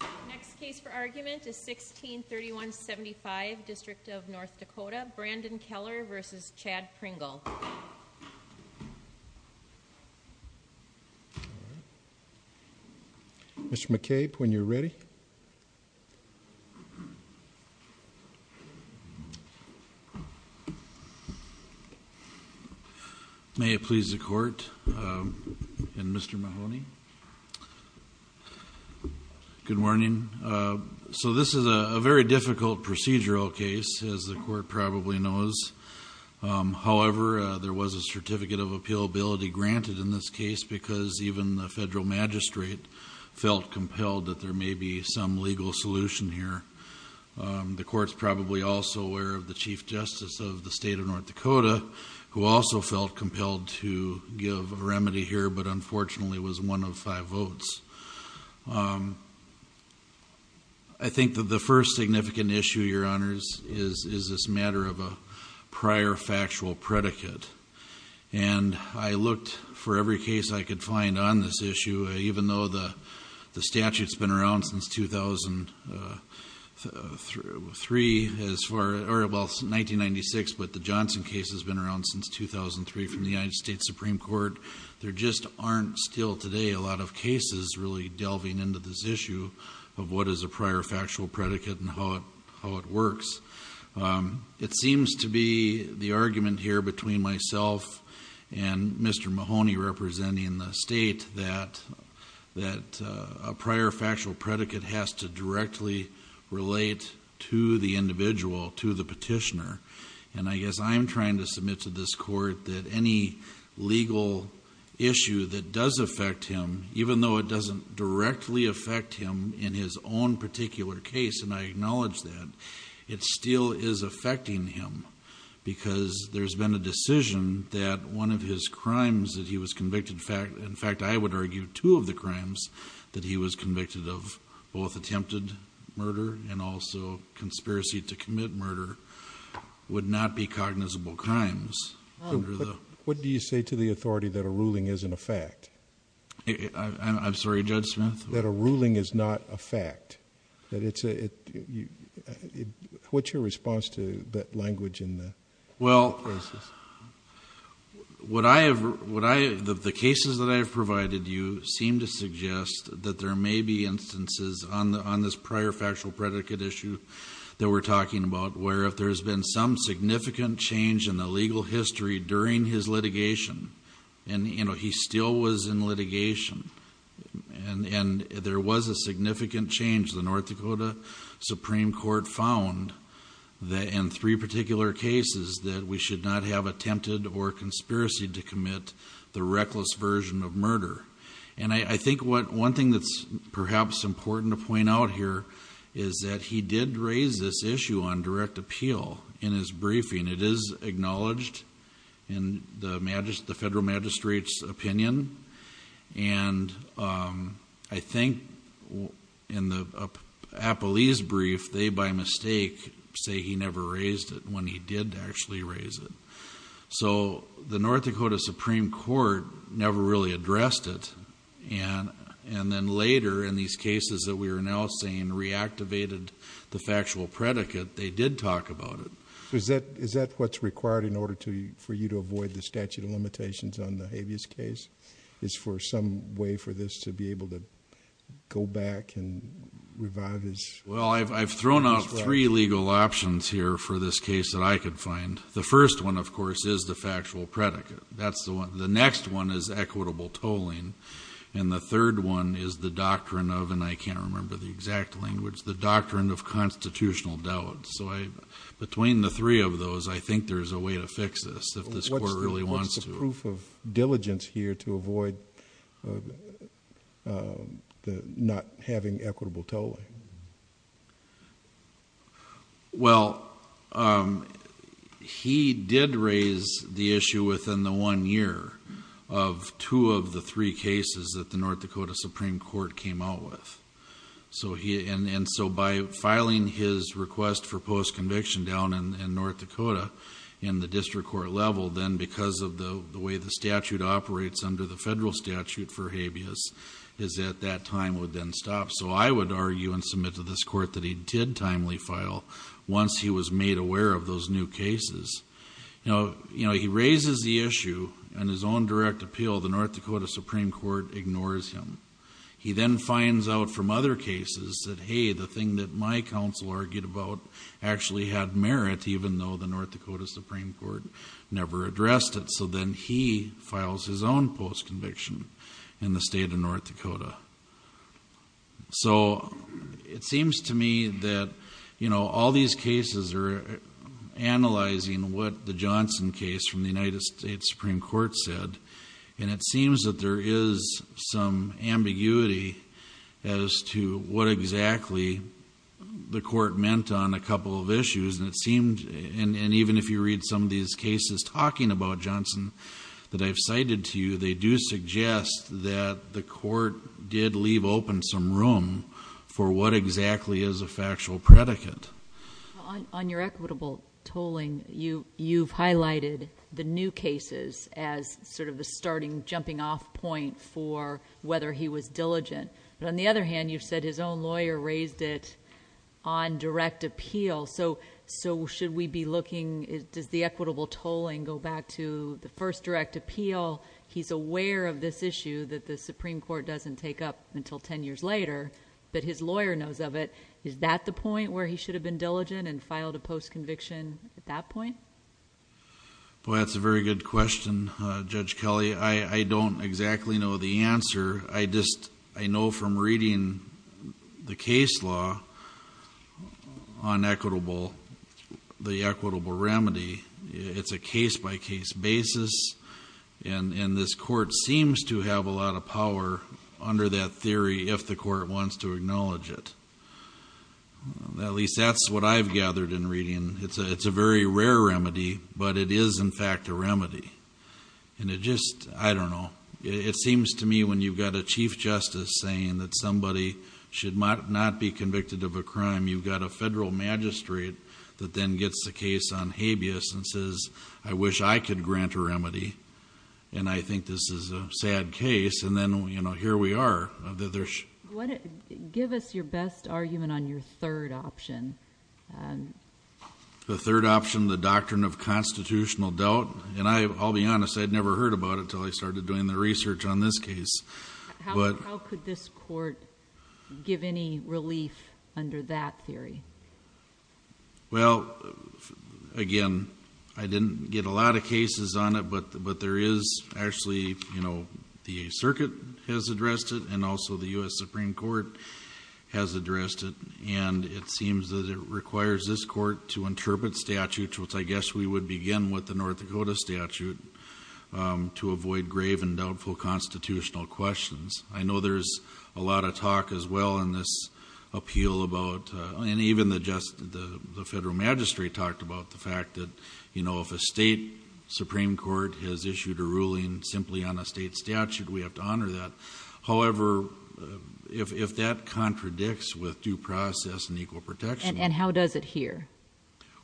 The next case for argument is 163175, District of North Dakota, Brandon Keller v. Chad Pringle Mr. McCabe, when you're ready May it please the court and Mr. Mahoney. Good morning. So this is a very difficult procedural case, as the court probably knows. However, there was a certificate of appealability granted in this case because even the federal magistrate felt compelled that there may be some legal solution here. The court's probably also aware of the Chief Justice of the state of North Dakota, who also felt compelled to give a remedy here, but unfortunately was one of five votes. I think that the first significant issue, your honors, is this matter of a prior factual predicate. And I looked for every case I could find on this issue, even though the statute's been around since 2003, well 1996, but the Johnson case has been around since 2003 from the United States Supreme Court. There just aren't still today a lot of cases really delving into this issue of what is a prior factual predicate and how it works. It seems to be the argument here between myself and Mr. Mahoney representing the state that a prior factual predicate has to directly relate to the individual, to the petitioner. And I guess I'm trying to submit to this court that any legal issue that does affect him, even though it doesn't directly affect him in his own particular case, and I acknowledge that, it still is affecting him. Because there's been a decision that one of his crimes that he was convicted, in fact I would argue two of the crimes that he was convicted of, both attempted murder and also conspiracy to commit murder, would not be cognizable crimes. What do you say to the authority that a ruling isn't a fact? I'm sorry, Judge Smith? That a ruling is not a fact. What's your response to that language in the cases? The cases that I've provided you seem to suggest that there may be instances on this prior factual predicate issue that we're talking about where if there's been some significant change in the legal history during his litigation, and he still was in litigation, and there was a significant change. The North Dakota Supreme Court found that in three particular cases that we should not have attempted or conspiracy to commit the reckless version of murder. And I think one thing that's perhaps important to point out here is that he did raise this issue on direct appeal in his briefing. It is acknowledged in the Federal Magistrate's opinion. And I think in the Apolese brief, they by mistake say he never raised it when he did actually raise it. So the North Dakota Supreme Court never really addressed it. And then later in these cases that we are now saying reactivated the factual predicate, they did talk about it. Is that what's required in order for you to avoid the statute of limitations on the Habeas case, is for some way for this to be able to go back and revive his... Well, I've thrown out three legal options here for this case that I could find. The first one, of course, is the factual predicate. The next one is equitable tolling. And the third one is the doctrine of, and I can't remember the exact language, the doctrine of constitutional doubt. So between the three of those, I think there's a way to fix this if this court really wants to. What's the proof of diligence here to avoid not having equitable tolling? Well, he did raise the issue within the one year of two of the three cases that the North Dakota Supreme Court came out with. And so by filing his request for post-conviction down in North Dakota in the district court level, then because of the way the statute operates under the federal statute for Habeas, is that that time would then stop. So I would argue and submit to this court that he did timely file once he was made aware of those new cases. Now, you know, he raises the issue on his own direct appeal. The North Dakota Supreme Court ignores him. He then finds out from other cases that, hey, the thing that my counsel argued about actually had merit, even though the North Dakota Supreme Court never addressed it. So then he files his own post-conviction in the state of North Dakota. So it seems to me that, you know, all these cases are analyzing what the Johnson case from the United States Supreme Court said. And it seems that there is some ambiguity as to what exactly the court meant on a couple of issues. And it seems, and even if you read some of these cases talking about Johnson that I've cited to you, they do suggest that the court did leave open some room for what exactly is a factual predicate. On your equitable tolling, you've highlighted the new cases as sort of the starting jumping off point for whether he was diligent. But on the other hand, you've said his own lawyer raised it on direct appeal. So should we be looking, does the equitable tolling go back to the first direct appeal? He's aware of this issue that the Supreme Court doesn't take up until ten years later, but his lawyer knows of it. Is that the point where he should have been diligent and filed a post-conviction at that point? Boy, that's a very good question, Judge Kelly. I don't exactly know the answer. I just, I know from reading the case law on equitable, the equitable remedy, it's a case-by-case basis. And this court seems to have a lot of power under that theory if the court wants to acknowledge it. At least that's what I've gathered in reading. It's a very rare remedy, but it is in fact a remedy. And it just, I don't know, it seems to me when you've got a chief justice saying that somebody should not be convicted of a crime, you've got a federal magistrate that then gets the case on habeas and says, I wish I could grant a remedy, and I think this is a sad case, and then here we are. Give us your best argument on your third option. The third option, the doctrine of constitutional doubt. And I'll be honest, I'd never heard about it until I started doing the research on this case. How could this court give any relief under that theory? Well, again, I didn't get a lot of cases on it, but there is actually, you know, the circuit has addressed it, and also the U.S. Supreme Court has addressed it. And it seems that it requires this court to interpret statute, which I guess we would begin with the North Dakota statute, to avoid grave and doubtful constitutional questions. I know there's a lot of talk as well in this appeal about, and even the federal magistrate talked about the fact that, you know, if a state Supreme Court has issued a ruling simply on a state statute, we have to honor that. However, if that contradicts with due process and equal protection. And how does it hear?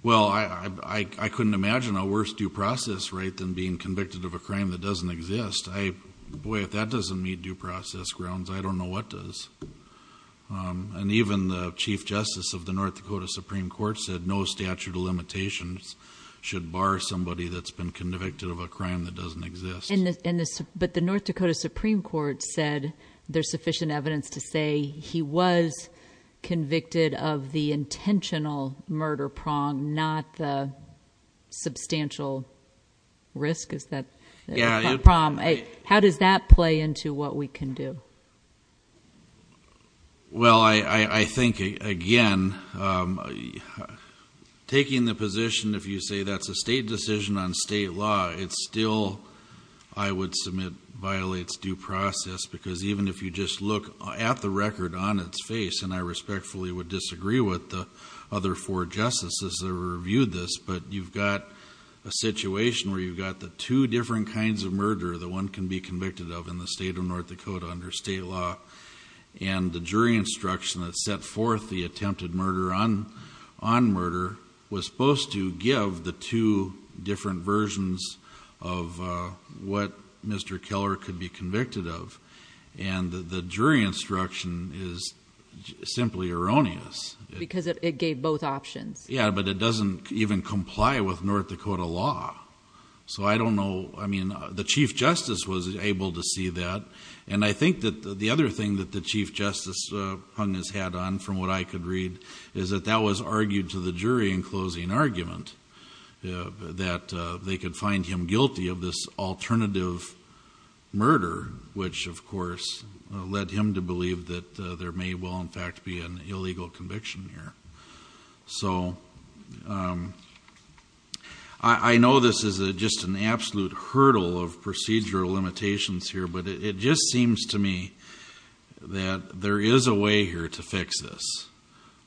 Well, I couldn't imagine a worse due process right than being convicted of a crime that doesn't exist. Boy, if that doesn't meet due process grounds, I don't know what does. And even the Chief Justice of the North Dakota Supreme Court said no statute of limitations should bar somebody that's been convicted of a crime that doesn't exist. But the North Dakota Supreme Court said there's sufficient evidence to say he was convicted of the intentional murder prong, not the substantial risk. Is that the prong? How does that play into what we can do? Well, I think, again, taking the position, if you say that's a state decision on state law, it still, I would submit, violates due process. Because even if you just look at the record on its face, and I respectfully would disagree with the other four justices that reviewed this, but you've got a situation where you've got the two different kinds of murder that one can be convicted of in the state of North Dakota under state law. And the jury instruction that set forth the attempted murder on murder was supposed to give the two different versions of what Mr. Keller could be convicted of. And the jury instruction is simply erroneous. Because it gave both options. Yeah, but it doesn't even comply with North Dakota law. So I don't know, I mean, the Chief Justice was able to see that. And I think that the other thing that the Chief Justice hung his hat on, from what I could read, is that that was argued to the jury in closing argument, that they could find him guilty of this alternative murder, which, of course, led him to believe that there may well, in fact, be an illegal conviction here. So I know this is just an absolute hurdle of procedural limitations here, but it just seems to me that there is a way here to fix this.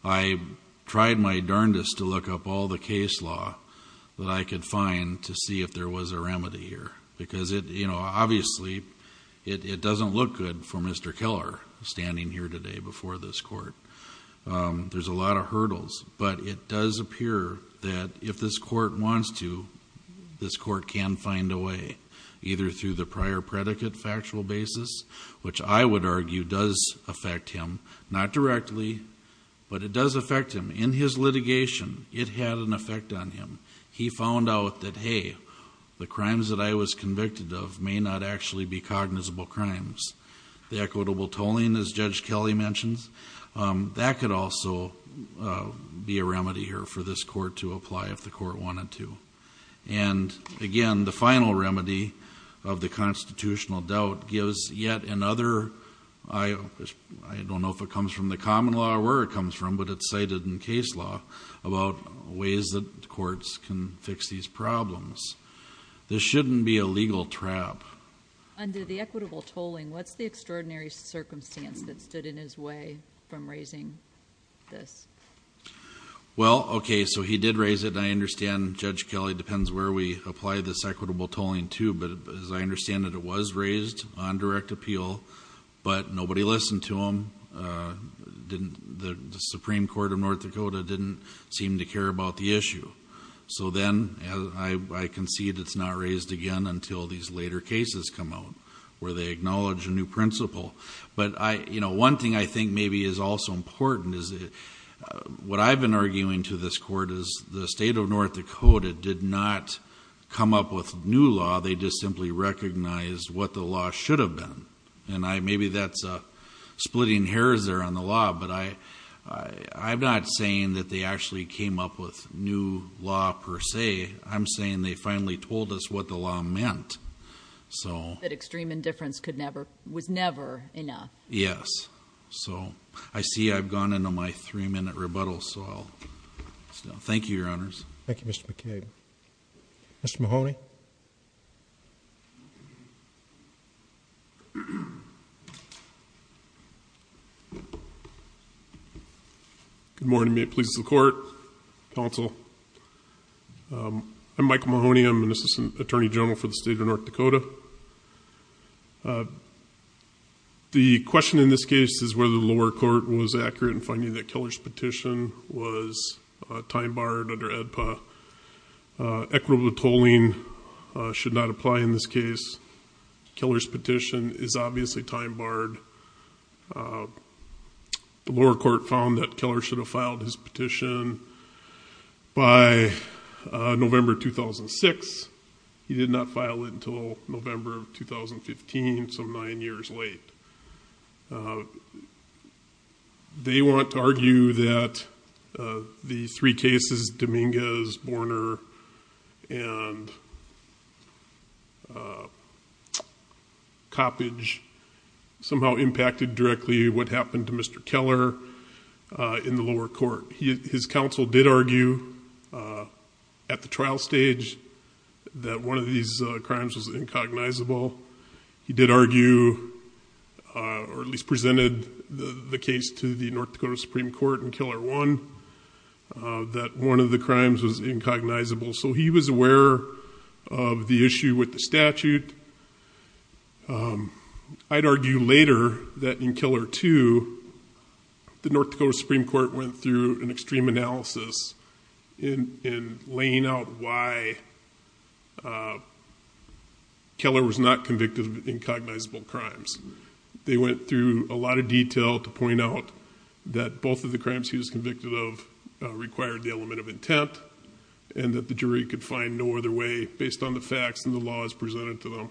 I tried my darndest to look up all the case law that I could find to see if there was a remedy here. Because, you know, obviously it doesn't look good for Mr. Keller standing here today before this court. There's a lot of hurdles. But it does appear that if this court wants to, this court can find a way, either through the prior predicate factual basis, which I would argue does affect him. Not directly, but it does affect him. In his litigation, it had an effect on him. He found out that, hey, the crimes that I was convicted of may not actually be cognizable crimes. The equitable tolling, as Judge Kelly mentions, that could also be a remedy here for this court to apply if the court wanted to. And, again, the final remedy of the constitutional doubt gives yet another, I don't know if it comes from the common law or where it comes from, but it's cited in case law about ways that courts can fix these problems. This shouldn't be a legal trap. Under the equitable tolling, what's the extraordinary circumstance that stood in his way from raising this? Well, okay, so he did raise it, and I understand, Judge Kelly, it depends where we apply this equitable tolling to, but as I understand it, it was raised on direct appeal, but nobody listened to him. The Supreme Court of North Dakota didn't seem to care about the issue. So then I concede it's not raised again until these later cases come out where they acknowledge a new principle. But one thing I think maybe is also important is what I've been arguing to this court is the state of North Dakota did not come up with new law. They just simply recognized what the law should have been. And maybe that's splitting hairs there on the law, but I'm not saying that they actually came up with new law per se. I'm saying they finally told us what the law meant. That extreme indifference was never enough. Yes. So I see I've gone into my three-minute rebuttal, so I'll stop. Thank you, Your Honors. Thank you, Mr. McCabe. Mr. Mahoney? Good morning. May it please the Court, Counsel. I'm Michael Mahoney. I'm an assistant attorney general for the state of North Dakota. The question in this case is whether the lower court was accurate in finding that Keller's petition was time-barred under AEDPA. Equitable tolling should not apply in this case. Keller's petition is obviously time-barred. The lower court found that Keller should have filed his petition by November 2006. He did not file it until November of 2015, some nine years late. They want to argue that the three cases, Dominguez, Borner, and Coppedge, somehow impacted directly what happened to Mr. Keller in the lower court. His counsel did argue at the trial stage that one of these crimes was incognizable. He did argue, or at least presented the case to the North Dakota Supreme Court in Keller 1, that one of the crimes was incognizable. So he was aware of the issue with the statute. I'd argue later that in Keller 2, the North Dakota Supreme Court went through an extreme analysis in laying out why Keller was not convicted of incognizable crimes. They went through a lot of detail to point out that both of the crimes he was convicted of required the element of intent and that the jury could find no other way based on the facts and the laws presented to them.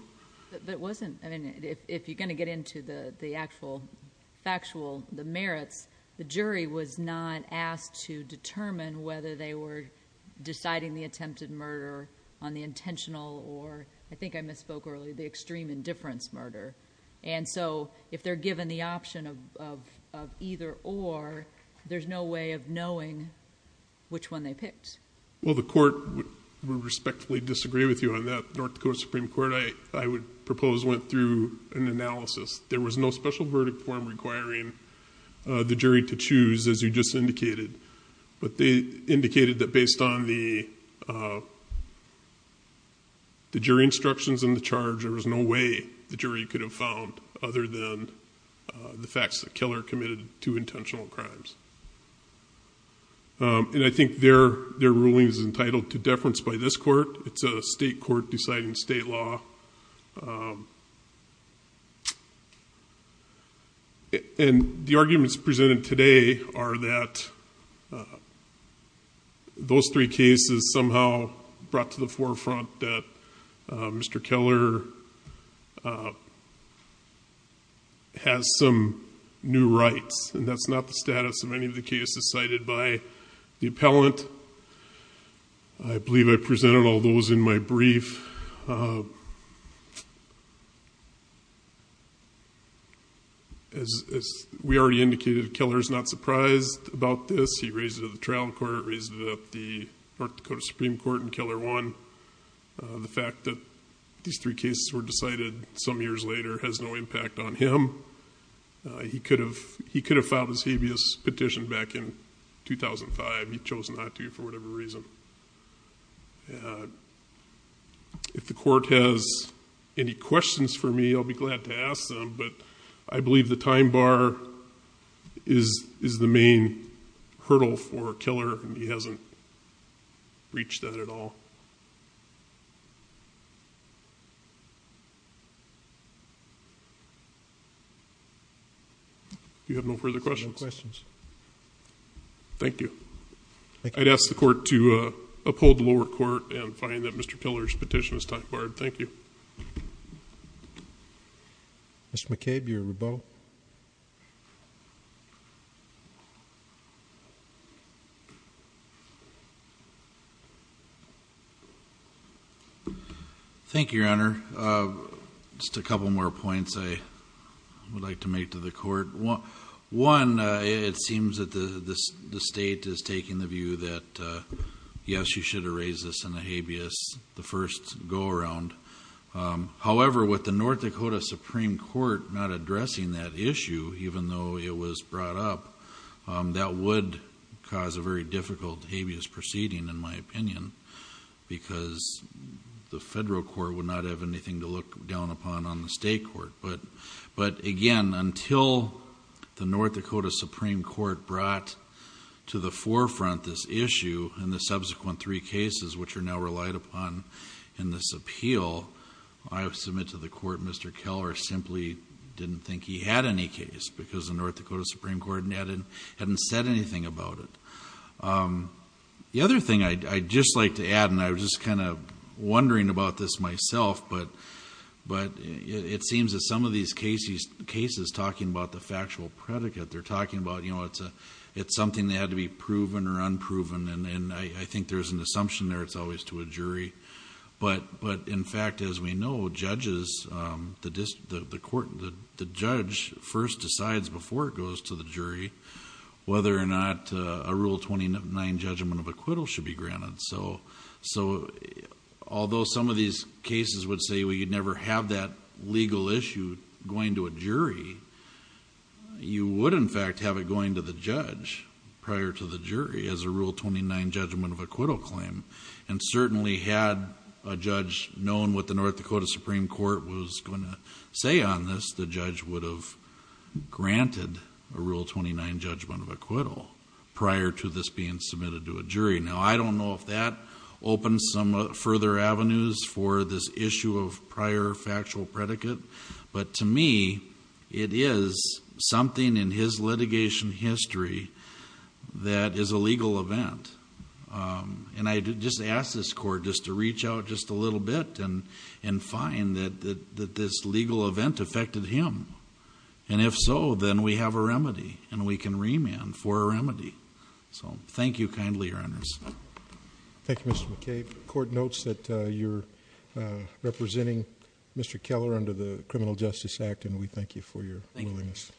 If you're going to get into the actual factual merits, the jury was not asked to determine whether they were deciding the attempted murder on the intentional or, I think I misspoke earlier, the extreme indifference murder. If they're given the option of either or, there's no way of knowing which one they picked. Well, the court would respectfully disagree with you on that. The North Dakota Supreme Court, I would propose, went through an analysis. There was no special verdict form requiring the jury to choose, as you just indicated. But they indicated that based on the jury instructions in the charge, there was no way the jury could have found other than the facts that Keller committed two intentional crimes. And I think their ruling is entitled to deference by this court. It's a state court deciding state law. And the arguments presented today are that those three cases somehow brought to the forefront that Mr. Keller has some new rights. And that's not the status of any of the cases cited by the appellant. I believe I presented all those in my brief. As we already indicated, Keller is not surprised about this. He raised it at the trial court, raised it at the North Dakota Supreme Court, and Keller won. The fact that these three cases were decided some years later has no impact on him. He could have filed his habeas petition back in 2005. He chose not to for whatever reason. And if the court has any questions for me, I'll be glad to ask them. But I believe the time bar is the main hurdle for Keller, and he hasn't reached that at all. Do you have no further questions? No questions. Thank you. I'd ask the court to uphold the lower court and find that Mr. Keller's petition is time barred. Thank you. Mr. McCabe, you're rebuttal. Thank you, Your Honor. Just a couple more points I would like to make to the court. One, it seems that the state is taking the view that, yes, you should have raised this in the habeas, the first go-around. However, with the North Dakota Supreme Court not addressing that issue, even though it was brought up, that would cause a very difficult habeas proceeding, in my opinion, because the federal court would not have anything to look down upon on the state court. But, again, until the North Dakota Supreme Court brought to the forefront this issue and the subsequent three cases, which are now relied upon in this appeal, I submit to the court Mr. Keller simply didn't think he had any case because the North Dakota Supreme Court hadn't said anything about it. The other thing I'd just like to add, and I was just kind of wondering about this myself, but it seems that some of these cases talking about the factual predicate, they're talking about it's something that had to be proven or unproven, and I think there's an assumption there it's always to a jury. But, in fact, as we know, judges, the judge first decides before it goes to the jury whether or not a Rule 29 judgment of acquittal should be granted. So, although some of these cases would say, well, you'd never have that legal issue going to a jury, you would, in fact, have it going to the judge prior to the jury as a Rule 29 judgment of acquittal claim. And certainly had a judge known what the North Dakota Supreme Court was going to say on this, the judge would have granted a Rule 29 judgment of acquittal prior to this being submitted to a jury. Now, I don't know if that opens some further avenues for this issue of prior factual predicate, but to me it is something in his litigation history that is a legal event. And I just ask this Court just to reach out just a little bit and find that this legal event affected him. And if so, then we have a remedy, and we can remand for a remedy. So, thank you kindly, Your Honors. Thank you, Mr. McCabe. The Court notes that you're representing Mr. Keller under the Criminal Justice Act, and we thank you for your willingness. Thank you.